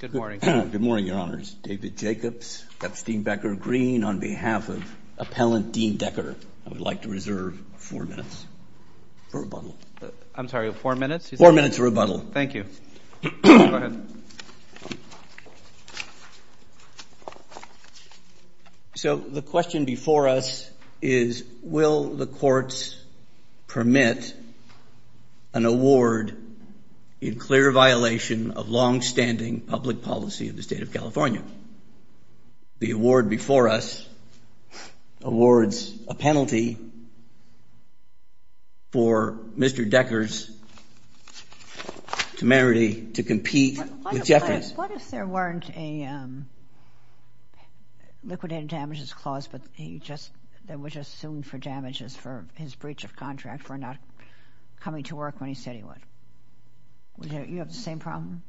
Good morning, Your Honors. David Jacobs, Epstein Becker Green, on behalf of Appellant Dean Decker, I would like to reserve four minutes for rebuttal. I'm sorry, four minutes? Four minutes. So the question before us is, will the courts permit an award in clear violation of longstanding public policy in the state of California? The award before us awards a penalty for Mr. Decker's temerity to compete with Jeffries. What if there weren't a liquidated damages clause, but he just, there were just assumed for damages for his breach of contract for not coming to work when he said he would? Would you have the same problem?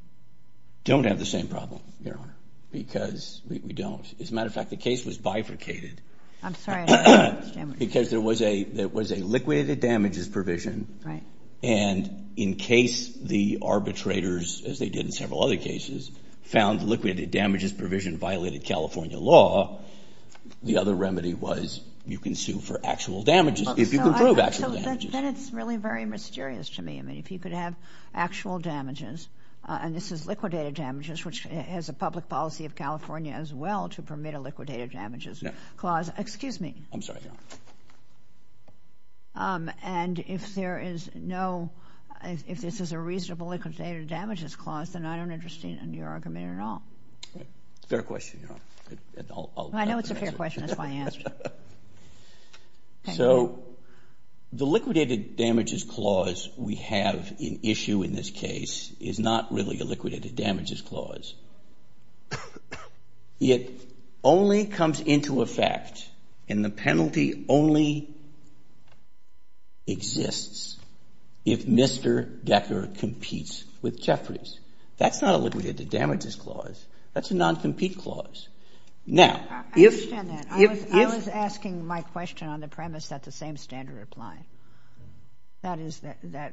Don't have the same problem, Your Honor, because we don't. As a matter of fact, the case was bifurcated. I'm sorry. Because there was a, there was a liquidated damages provision. Right. And in case the arbitrators, as they did in several other cases, found liquidated damages provision violated California law, the other remedy was you can sue for actual damages, if you can prove actual damages. Then it's really very mysterious to me. I mean, if you could have actual damages, and this is liquidated damages, which has a public policy of California as well to permit a liquidated damages clause. Excuse me. I'm sorry, Your Honor. And if there is no, if this is a reasonable liquidated damages clause, then I don't understand your argument at all. Fair question, Your Honor. I know it's a fair question. That's why I asked. So the liquidated damages clause we have in issue in this case is not really a liquidated damages clause. It only comes into effect, and the penalty only exists, if Mr. Decker competes with Jeffries. That's not a liquidated damages clause. That's a non-compete clause. Now, if, if, if. I understand that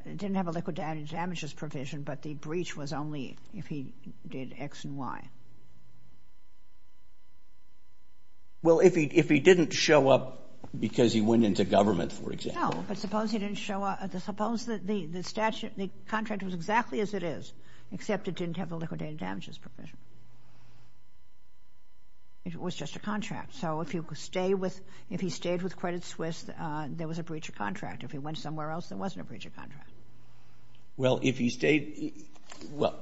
it didn't have a liquidated damages provision, but the breach was only if he did X and Y. Well, if he, if he didn't show up because he went into government, for example. No, but suppose he didn't show up, suppose that the, the statute, the contract was exactly as it is, except it didn't have a liquidated damages provision. It was just a contract. So if you could stay with, if he stayed with Credit Suisse, there was a breach of contract. If he went somewhere else, there wasn't a breach of contract. Well, if he stayed, well,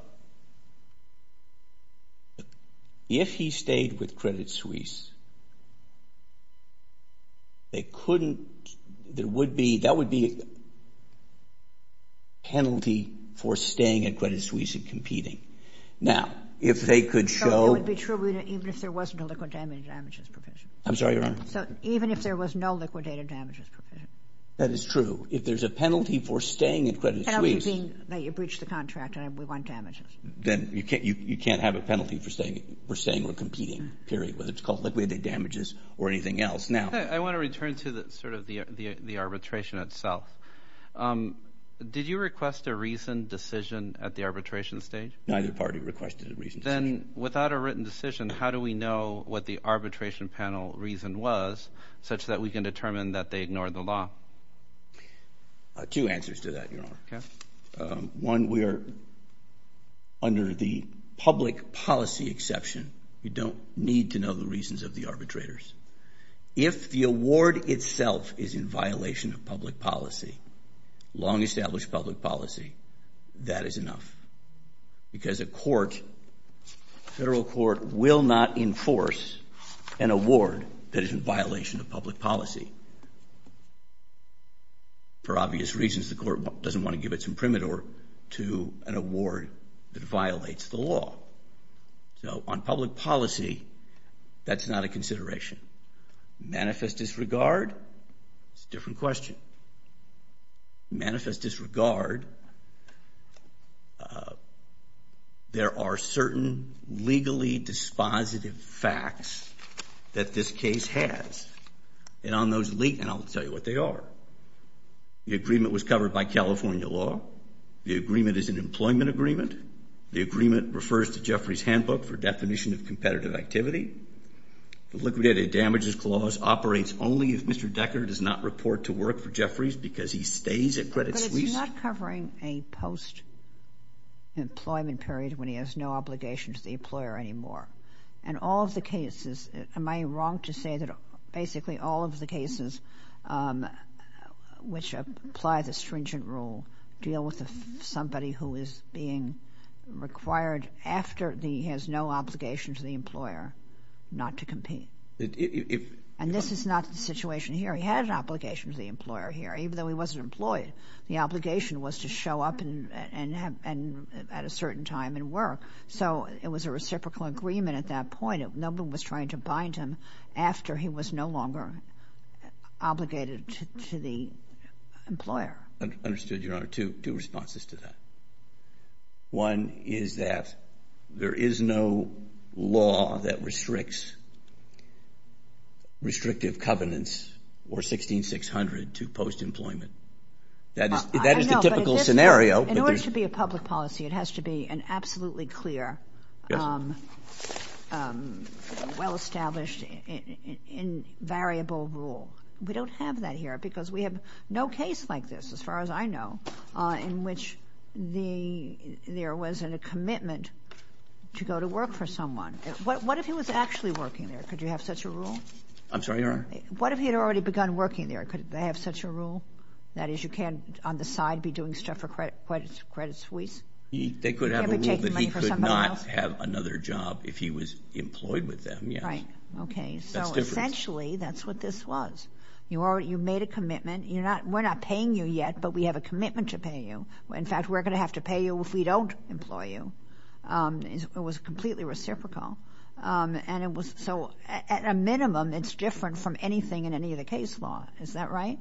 if he stayed with Credit Suisse, they couldn't, there would be, that would be a penalty for staying at Credit Suisse and competing. Now, if they could show. It would be true, even if there wasn't a liquidated damages provision. I'm sorry, Your Honor, no liquidated damages provision. That is true. If there's a penalty for staying at Credit Suisse. Penalty being that you breached the contract and we want damages. Then you can't, you, you can't have a penalty for staying, for staying or competing, period. Whether it's called liquidated damages or anything else. Now. I want to return to the sort of the, the, the arbitration itself. Did you request a reasoned decision at the arbitration stage? Neither party requested a reasoned decision. Then, without a written decision, how do we know what the arbitration panel reason was, such that we can determine that they ignored the law? Two answers to that, Your Honor. Okay. One, we are under the public policy exception. You don't need to know the reasons of the arbitrators. If the award itself is in violation of public policy, long established public policy, that is enough. Because a court, federal court, will not enforce an award that is in violation of public policy. For obvious reasons, the court doesn't want to give its imprimatur to an award that violates the law. So, on public policy, that's not a consideration. Manifest disregard, it's a consideration. There are certain legally dispositive facts that this case has. And on those legal, and I'll tell you what they are. The agreement was covered by California law. The agreement is an employment agreement. The agreement refers to Jeffrey's handbook for definition of competitive activity. The liquidated damages clause operates only if Mr. Decker does not report to work for the post-employment period when he has no obligation to the employer anymore. And all of the cases, am I wrong to say that basically all of the cases which apply the stringent rule deal with somebody who is being required after he has no obligation to the employer not to compete? And this is not the situation here. He had an obligation to the employer here, even though he wasn't employed. The at a certain time and work. So, it was a reciprocal agreement at that point. No one was trying to bind him after he was no longer obligated to the employer. Understood, Your Honor. Two responses to that. One is that there is no law that restricts restrictive covenants or 16-600 to post-employment. That is the typical scenario. In order to be a public policy, it has to be an absolutely clear, well-established, and variable rule. We don't have that here because we have no case like this, as far as I know, in which there wasn't a commitment to go to work for someone. What if he was actually working there? Could you have such a rule? I'm sorry, Your Honor? What if he had already begun working there? Could they have such a rule? That is, you can't, on the side, be doing stuff for credit suites? They could have a rule that he could not have another job if he was employed with them, yes. Right. Okay. So, essentially, that's what this was. You made a commitment. We're not paying you yet, but we have a commitment to pay you. In fact, we're going to have to pay you if we don't employ you. It was completely reciprocal. So, at a minimum, it's different from anything in any of the case law. Is that right?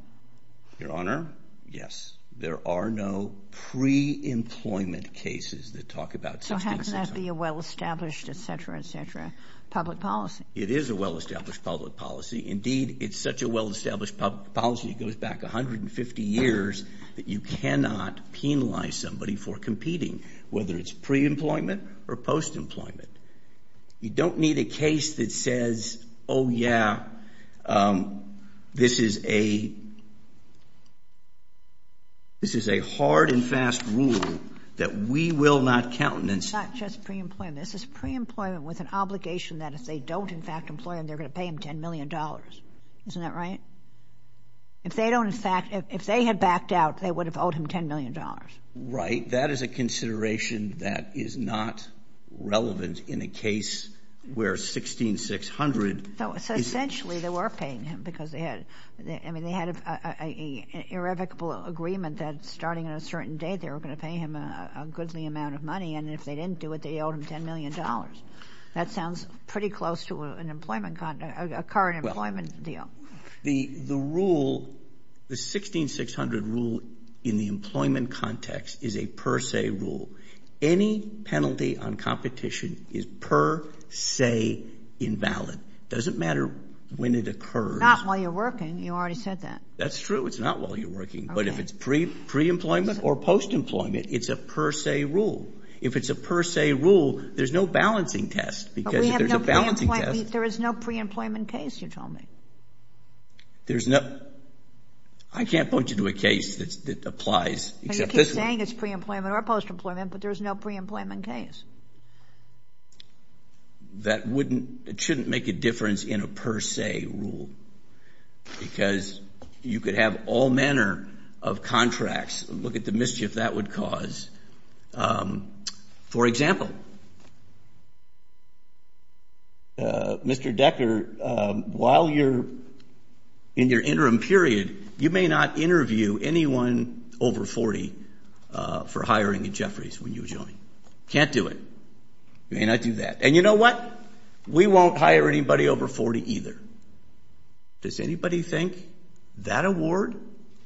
Your Honor, yes. There are no pre-employment cases that talk about 16-600. So, how can that be a well-established, etc., etc., public policy? It is a well-established public policy. Indeed, it's such a well-established public policy, it goes back 150 years, that you cannot penalize somebody for competing, whether it's pre-employment or post-employment. You don't need a case that says, oh, yeah, this is a hard and fast rule that we will not countenance. It's not just pre-employment. This is pre-employment with an obligation that if they don't, in fact, employ him, they're going to pay him $10 million. Isn't that right? If they had backed out, they would have owed him $10 million. Right. That is a consideration that is not relevant in a case where 16-600 is... So, essentially, they were paying him because they had, I mean, they had an irrevocable agreement that starting on a certain date, they were going to pay him a goodly amount of money, and if they didn't do it, they owed him $10 million. That sounds pretty close to an employment, a current employment deal. The rule, the 16-600 rule in the employment context is a per se rule. Any penalty on competition is per se invalid. It doesn't matter when it occurs. Not while you're working. You already said that. That's true. It's not while you're working. Okay. But if it's pre-employment or post-employment, it's a per se rule. If it's a per se rule, there's no balancing test, because if there's a balancing test... There is no pre-employment case, you told me. There's no... I can't point you to a case that applies except this one. You keep saying it's pre-employment or post-employment, but there's no pre-employment case. That wouldn't, it shouldn't make a difference in a per se rule, because you could have all manner of contracts. Look at the mischief that would cause. For example, Mr. Decker, while you're in your interim period, you may not interview anyone over 40 for hiring at Jefferies when you join. Can't do it. You may not do that. And you know what? We won't hire anybody over 40 either. Does anybody think that award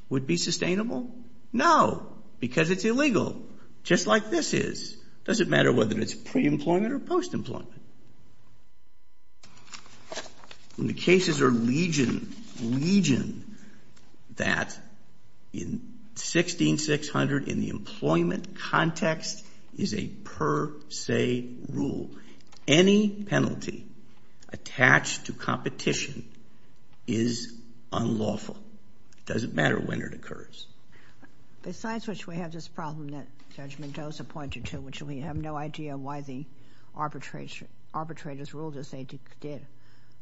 would be sustainable? No, because it's illegal, just like this is. Doesn't matter whether it's pre-employment or post-employment. When the cases are legion, legion, that in 16-600, in the employment context, is a per se rule. Any penalty attached to competition is unlawful. Doesn't matter when it occurs. Besides which, we have this problem that Judge Mendoza pointed to, which we have no idea why the arbitrators ruled as they did.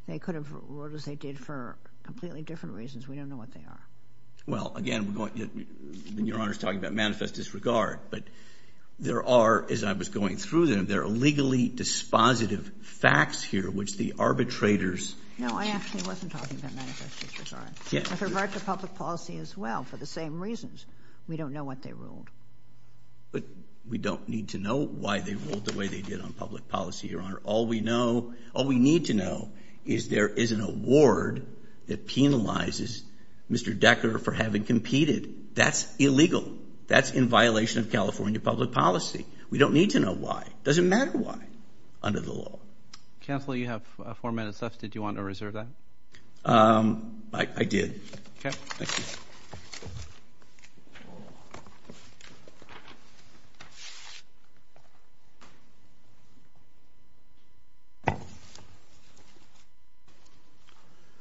They could have ruled as they did for completely different reasons. We don't know what they are. Well, again, Your Honor's talking about manifest disregard, but there are, as I was going through them, there are legally dispositive facts here which the arbitrators No, I actually wasn't talking about manifest disregard. With regard to public policy as well, for the same reasons, we don't know what they ruled. But we don't need to know why they ruled the way they did on public policy, Your Honor. All we need to know is there is an award that penalizes Mr. Decker for having competed. That's illegal. That's in violation of California public policy. We don't need to know why. Doesn't matter why under the law. Counsel, you have four minutes left. Did you want to reserve that? I did. Okay. Thank you.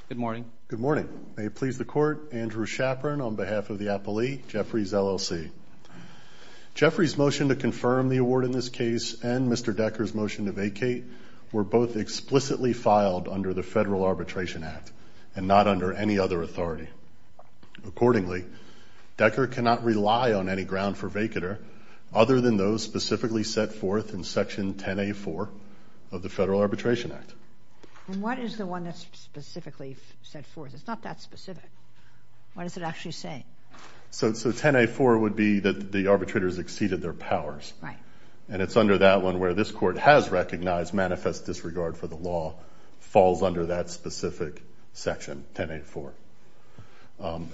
Good morning. Good morning. May it please the Court, Andrew Shapron on behalf of the appellee, Jeffries, LLC. Jeffries' motion to confirm the award in this case and Mr. Decker's motion to vacate were both explicitly filed under the Federal Arbitration Act and not under any other authority. Accordingly, Decker cannot rely on any ground for vacater other than those specifically set forth in Section 10A4 of the Federal Arbitration Act. And what is the one that's specifically set forth? It's not that specific. What does it actually say? So 10A4 would be that the arbitrators exceeded their powers. Right. And it's under that one where this Court has recognized manifest disregard for the law falls under that specific Section 10A4.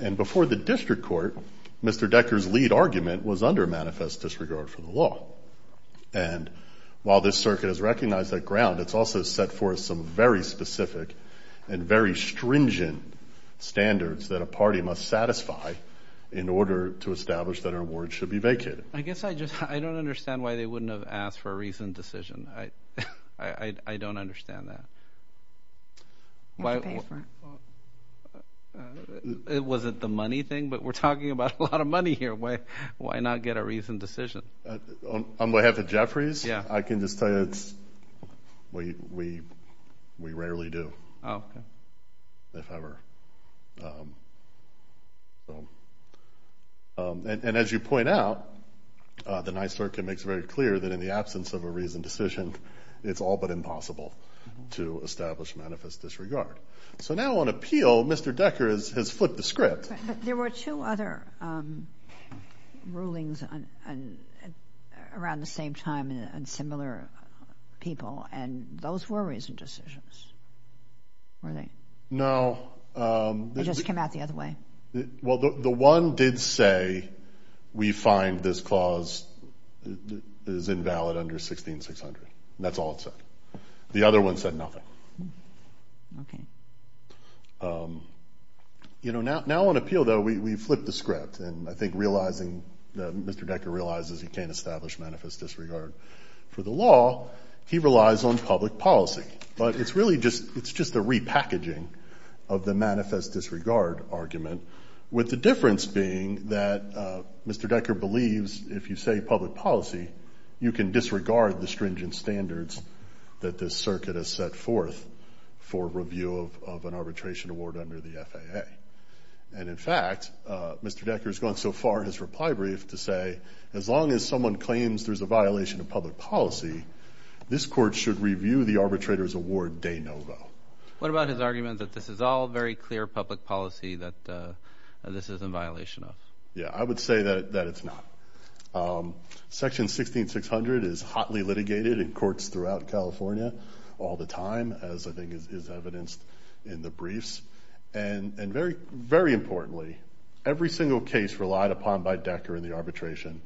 And before the district court, Mr. Decker's lead argument was under manifest disregard for the law. And while this circuit has recognized that ground, it's also set forth some very specific and very stringent standards that a party must satisfy in order to establish that an award should be vacated. I guess I just don't understand why they wouldn't have asked for a reasoned decision. I don't understand that. Was it the money thing? But we're talking about a lot of money here. Why not get a reasoned decision? On behalf of Jeffries, I can just tell you we rarely do, if ever. And as you point out, the nice circuit makes it very clear that in the absence of a reasoned decision, it's all but impossible to establish manifest disregard. So now on appeal, Mr. Decker has flipped the script. But there were two other rulings around the same time and similar people, and those were reasoned decisions, weren't they? No. It just came out the other way. Well, the one did say we find this clause is invalid under 16-600. That's all it said. The other one said nothing. Okay. You know, now on appeal, though, we flipped the script. And I think realizing that Mr. Decker realizes he can't establish manifest disregard for the law, he relies on public policy. But it's really just a repackaging of the manifest disregard argument, with the difference being that Mr. Decker believes if you say public policy, you can disregard the stringent standards that this circuit has set forth for review of an arbitration award under the FAA. And, in fact, Mr. Decker has gone so far in his reply brief to say, as long as someone claims there's a violation of public policy, this court should review the arbitrator's award de novo. What about his argument that this is all very clear public policy that this is in violation of? Yeah, I would say that it's not. Section 16-600 is hotly litigated in courts throughout California all the time, as I think is evidenced in the briefs. And very importantly, every single case relied upon by Decker in the arbitration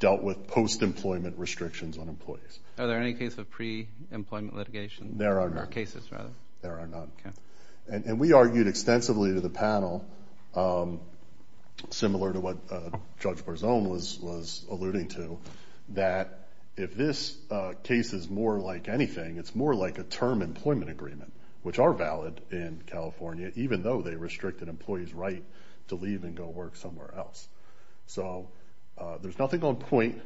dealt with post-employment restrictions on employees. Are there any cases of pre-employment litigation? There are none. Or cases, rather. There are none. Okay. And we argued extensively to the panel, similar to what Judge Barzone was alluding to, that if this case is more like anything, it's more like a term employment agreement, which are valid in California, even though they restricted employees' right to leave and go work somewhere else. So there's nothing on point,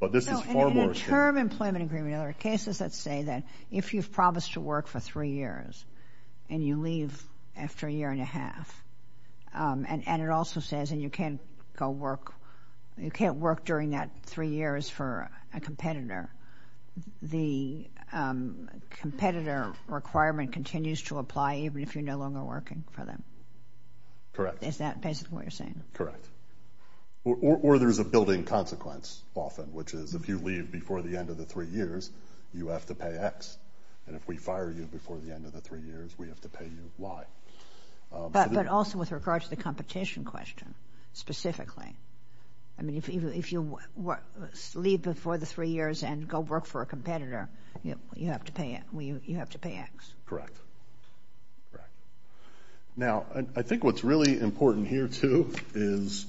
but this is far more. In a term employment agreement, are there cases that say that if you've promised to work for three years and you leave after a year and a half, and it also says you can't go work, you can't work during that three years for a competitor, the competitor requirement continues to apply even if you're no longer working for them? Correct. Is that basically what you're saying? Correct. Or there's a building consequence often, which is if you leave before the end of the three years, you have to pay X, and if we fire you before the end of the three years, we have to pay you Y. But also with regard to the competition question specifically. I mean, if you leave before the three years and go work for a competitor, you have to pay X. Correct. Now, I think what's really important here, too, is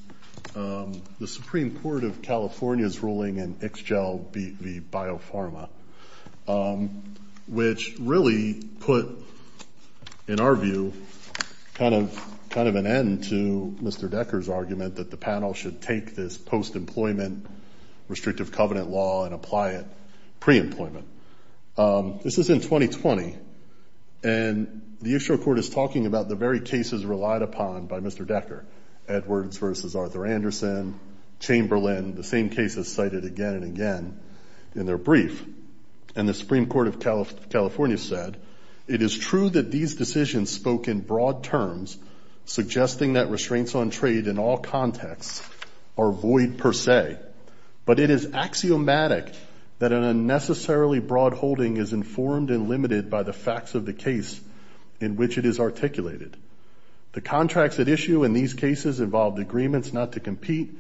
the Supreme Court of California's ruling in Ixgel v. Biopharma, which really put, in our view, kind of an end to Mr. Decker's argument that the panel should take this post-employment restrictive covenant law and apply it pre-employment. This is in 2020, and the Ixgel Court is talking about the very cases relied upon by Mr. Decker, Edwards v. Arthur Anderson, Chamberlain, the same cases cited again and again in their brief. And the Supreme Court of California said, it is true that these decisions spoke in broad terms, suggesting that restraints on trade in all contexts are void per se, but it is axiomatic that an unnecessarily broad holding is informed and limited by the facts of the case in which it is articulated. The contracts at issue in these cases involved agreements not to compete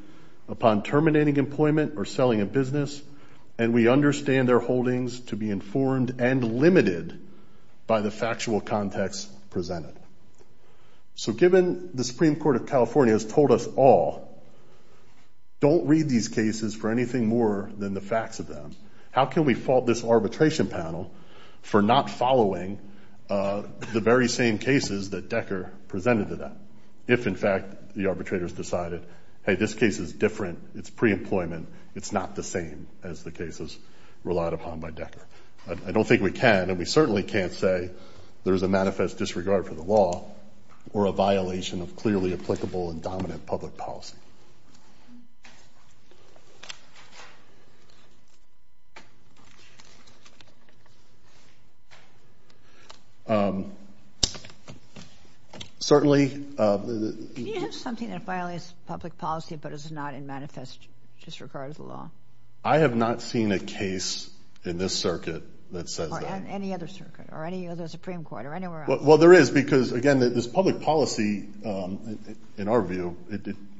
upon terminating employment or selling a business, and we understand their holdings to be informed and limited by the factual context presented. So given the Supreme Court of California has told us all, don't read these cases for anything more than the facts of them, how can we fault this arbitration panel for not following the very same cases that Decker presented to them? If, in fact, the arbitrators decided, hey, this case is different, it's pre-employment, it's not the same as the cases relied upon by Decker. I don't think we can, and we certainly can't say there's a manifest disregard for the law or a violation of clearly applicable and dominant public policy. Certainly. Can you have something that violates public policy but is not in manifest disregard of the law? I have not seen a case in this circuit that says that. Or any other circuit or any other Supreme Court or anywhere else. Well, there is because, again, this public policy, in our view,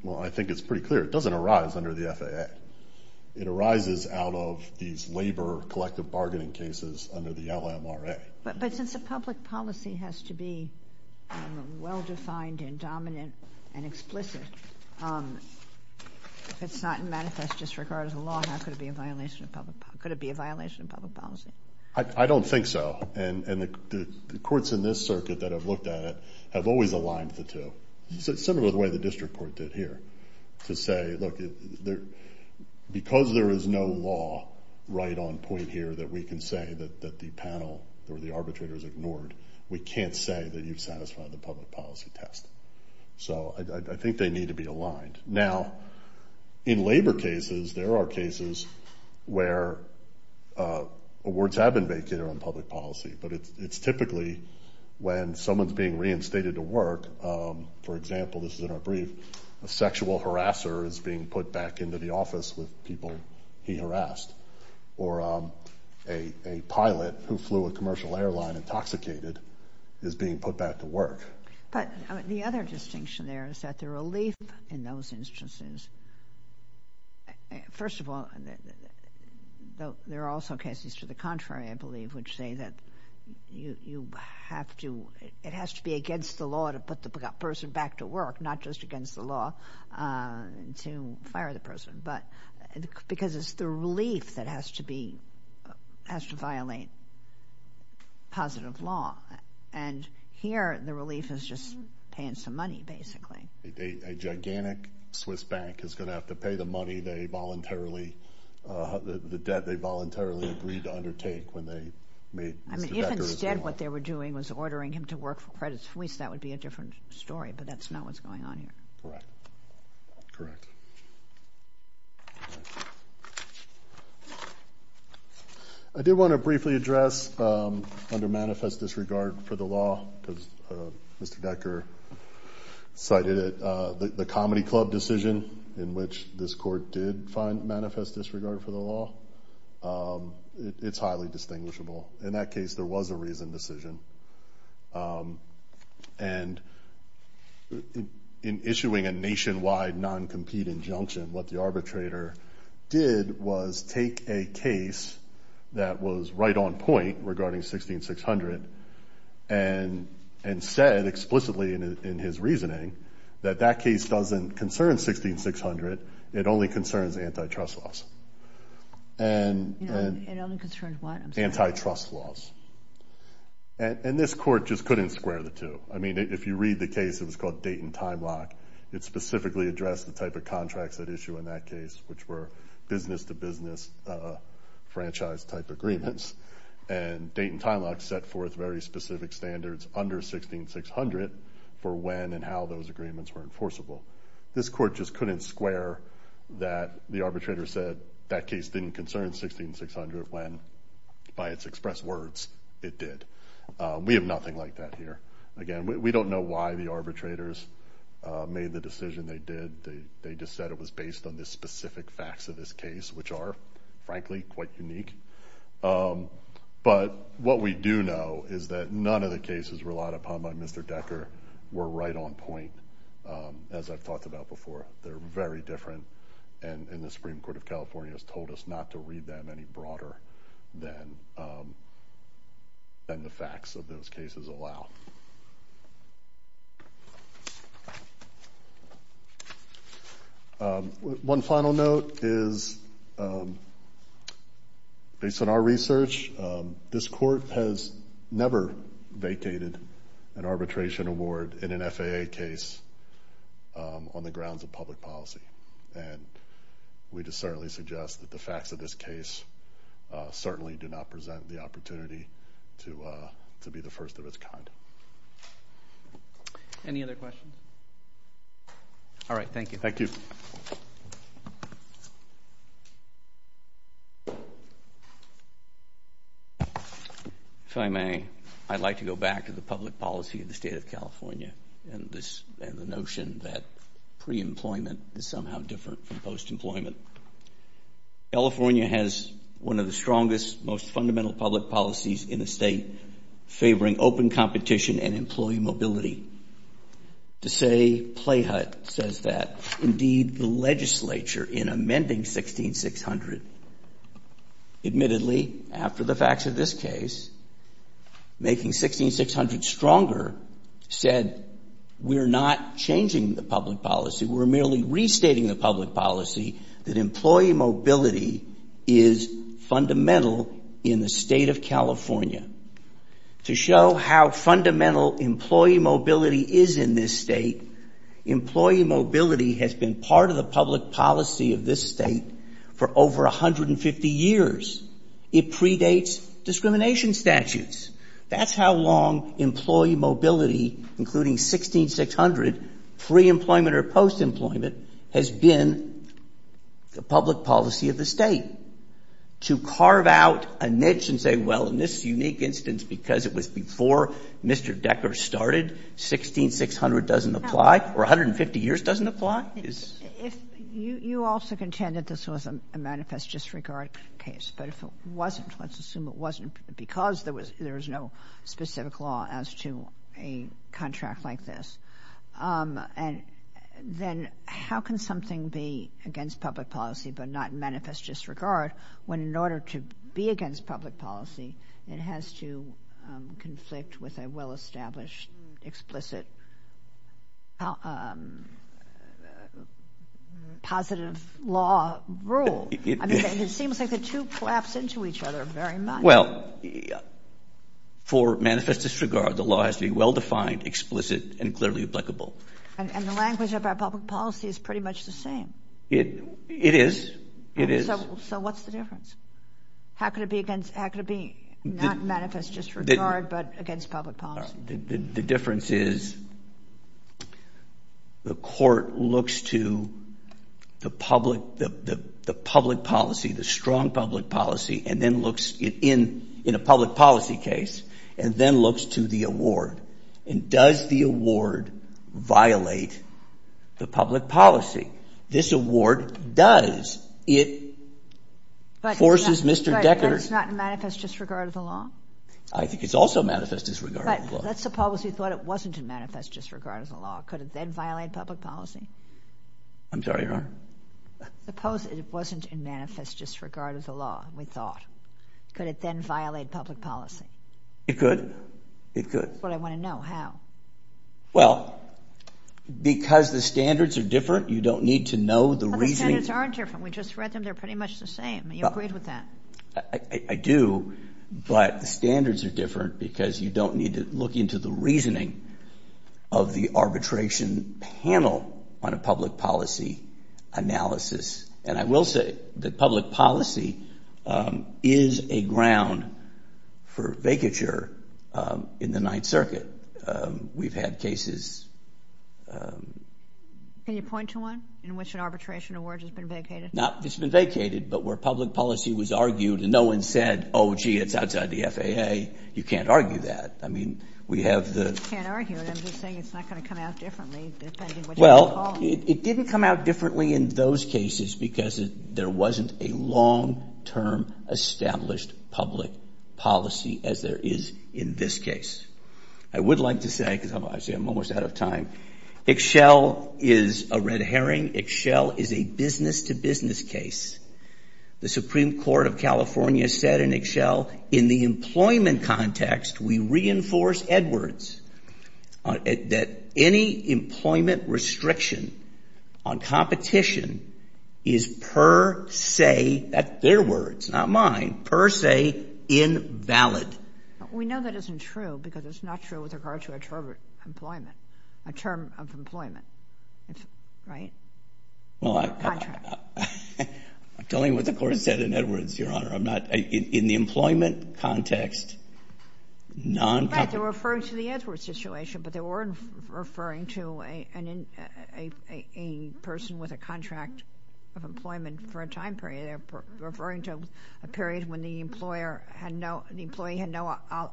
well, I think it's pretty clear, it doesn't arise under the FAA. It arises out of these labor collective bargaining cases under the LMRA. But since the public policy has to be well-defined and dominant and explicit, if it's not in manifest disregard of the law, how could it be a violation of public policy? I don't think so. And the courts in this circuit that have looked at it have always aligned the two, similar to the way the district court did here, to say, look, because there is no law right on point here that we can say that the panel or the arbitrators ignored, we can't say that you've satisfied the public policy test. So I think they need to be aligned. Now, in labor cases, there are cases where words have been made clear on public policy, but it's typically when someone's being reinstated to work, for example, this is in our brief, a sexual harasser is being put back into the office with people he harassed, or a pilot who flew a commercial airline intoxicated is being put back to work. But the other distinction there is that the relief in those instances, first of all, there are also cases to the contrary, I believe, which say that it has to be against the law to put the person back to work, not just against the law to fire the person, because it's the relief that has to violate positive law. And here, the relief is just paying some money, basically. A gigantic Swiss bank is going to have to pay the money they voluntarily, the debt they voluntarily agreed to undertake when they made Mr. Becker as law. I mean, if instead what they were doing was ordering him to work for Credit Suisse, that would be a different story, but that's not what's going on here. Correct. Correct. I did want to briefly address under manifest disregard for the law, because Mr. Becker cited it, the comedy club decision in which this court did find manifest disregard for the law. It's highly distinguishable. In that case, there was a reasoned decision. And in issuing a nationwide non-compete injunction, what the arbitrator did was take a case that was right on point regarding 16-600 and said explicitly in his reasoning that that case doesn't concern 16-600, it only concerns antitrust laws. It only concerns what? Antitrust laws. And this court just couldn't square the two. I mean, if you read the case, it was called Dayton Time Lock. It specifically addressed the type of contracts at issue in that case, which were business-to-business franchise-type agreements. And Dayton Time Lock set forth very specific standards under 16-600 for when and how those agreements were enforceable. This court just couldn't square that the arbitrator said that case didn't concern 16-600 when, by its expressed words, it did. We have nothing like that here. Again, we don't know why the arbitrators made the decision they did. They just said it was based on the specific facts of this case, which are, frankly, quite unique. But what we do know is that none of the cases relied upon by Mr. Decker were right on point, as I've talked about before. They're very different, and the Supreme Court of California has told us not to read them any broader than the facts of those cases allow. One final note is, based on our research, this court has never vacated an arbitration award in an FAA case on the grounds of public policy. And we just certainly suggest that the facts of this case certainly do not present the opportunity to be the first of its kind. Any other questions? All right, thank you. Thank you. If I may, I'd like to go back to the public policy of the State of California and the notion that pre-employment is somehow different from post-employment. California has one of the strongest, most fundamental public policies in the state, favoring open competition and employee mobility. To say play hut says that. Indeed, the legislature, in amending 16600, admittedly, after the facts of this case, making 16600 stronger, said we're not changing the public policy. We're merely restating the public policy that employee mobility is fundamental in the State of California. To show how fundamental employee mobility is in this state, employee mobility has been part of the public policy of this state for over 150 years. It predates discrimination statutes. That's how long employee mobility, including 16600, pre-employment or post-employment, has been the public policy of the state. To carve out a niche and say, well, in this unique instance, because it was before Mr. Decker started, 16600 doesn't apply, or 150 years doesn't apply, is — You also contend that this was a manifest disregard case. But if it wasn't, let's assume it wasn't, because there was no specific law as to a contract like this, then how can something be against public policy but not manifest disregard when in order to be against public policy, it has to conflict with a well-established, explicit, positive law rule? It seems like the two collapse into each other very much. Well, for manifest disregard, the law has to be well-defined, explicit, and clearly applicable. And the language of our public policy is pretty much the same. It is. It is. So what's the difference? How can it be not manifest disregard but against public policy? The difference is the court looks to the public policy, the strong public policy, and then looks in a public policy case and then looks to the award. And does the award violate the public policy? This award does. But it's not in manifest disregard of the law? I think it's also manifest disregard of the law. But suppose we thought it wasn't in manifest disregard of the law. Could it then violate public policy? I'm sorry, Your Honor? Suppose it wasn't in manifest disregard of the law, we thought. Could it then violate public policy? It could. It could. That's what I want to know. How? Well, because the standards are different, you don't need to know the reasoning. The standards aren't different. We just read them, they're pretty much the same. You agreed with that? I do, but the standards are different because you don't need to look into the reasoning of the arbitration panel on a public policy analysis. And I will say that public policy is a ground for vacature in the Ninth Circuit. We've had cases. Can you point to one in which an arbitration award has been vacated? It's been vacated, but where public policy was argued and no one said, oh, gee, it's outside the FAA, you can't argue that. I mean, we have the. You can't argue it. I'm just saying it's not going to come out differently depending on what you call it. Well, it didn't come out differently in those cases because there wasn't a long-term established public policy as there is in this case. I would like to say, because I'm almost out of time, Ixchel is a red herring. Ixchel is a business-to-business case. The Supreme Court of California said in Ixchel, in the employment context, we reinforce Edwards that any employment restriction on competition is per se, that's their words, not mine, per se invalid. We know that isn't true because it's not true with regard to employment, a term of employment, right? Contract. I'm telling you what the Court said in Edwards, Your Honor. In the employment context, non- Right, they were referring to the Edwards situation, but they weren't referring to a person with a contract of employment for a time period. They're referring to a period when the employee had no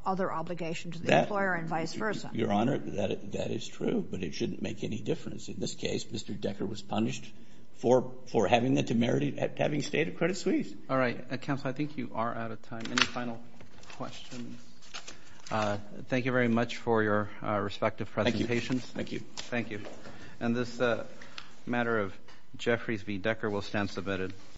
other obligation to the employer and vice versa. Your Honor, that is true, but it shouldn't make any difference. In this case, Mr. Decker was punished for having the temerity, having stayed at Credit Suisse. All right, Counselor, I think you are out of time. Any final questions? Thank you very much for your respective presentations. Thank you. Thank you. And this matter of Jeffries v. Decker will stand submitted.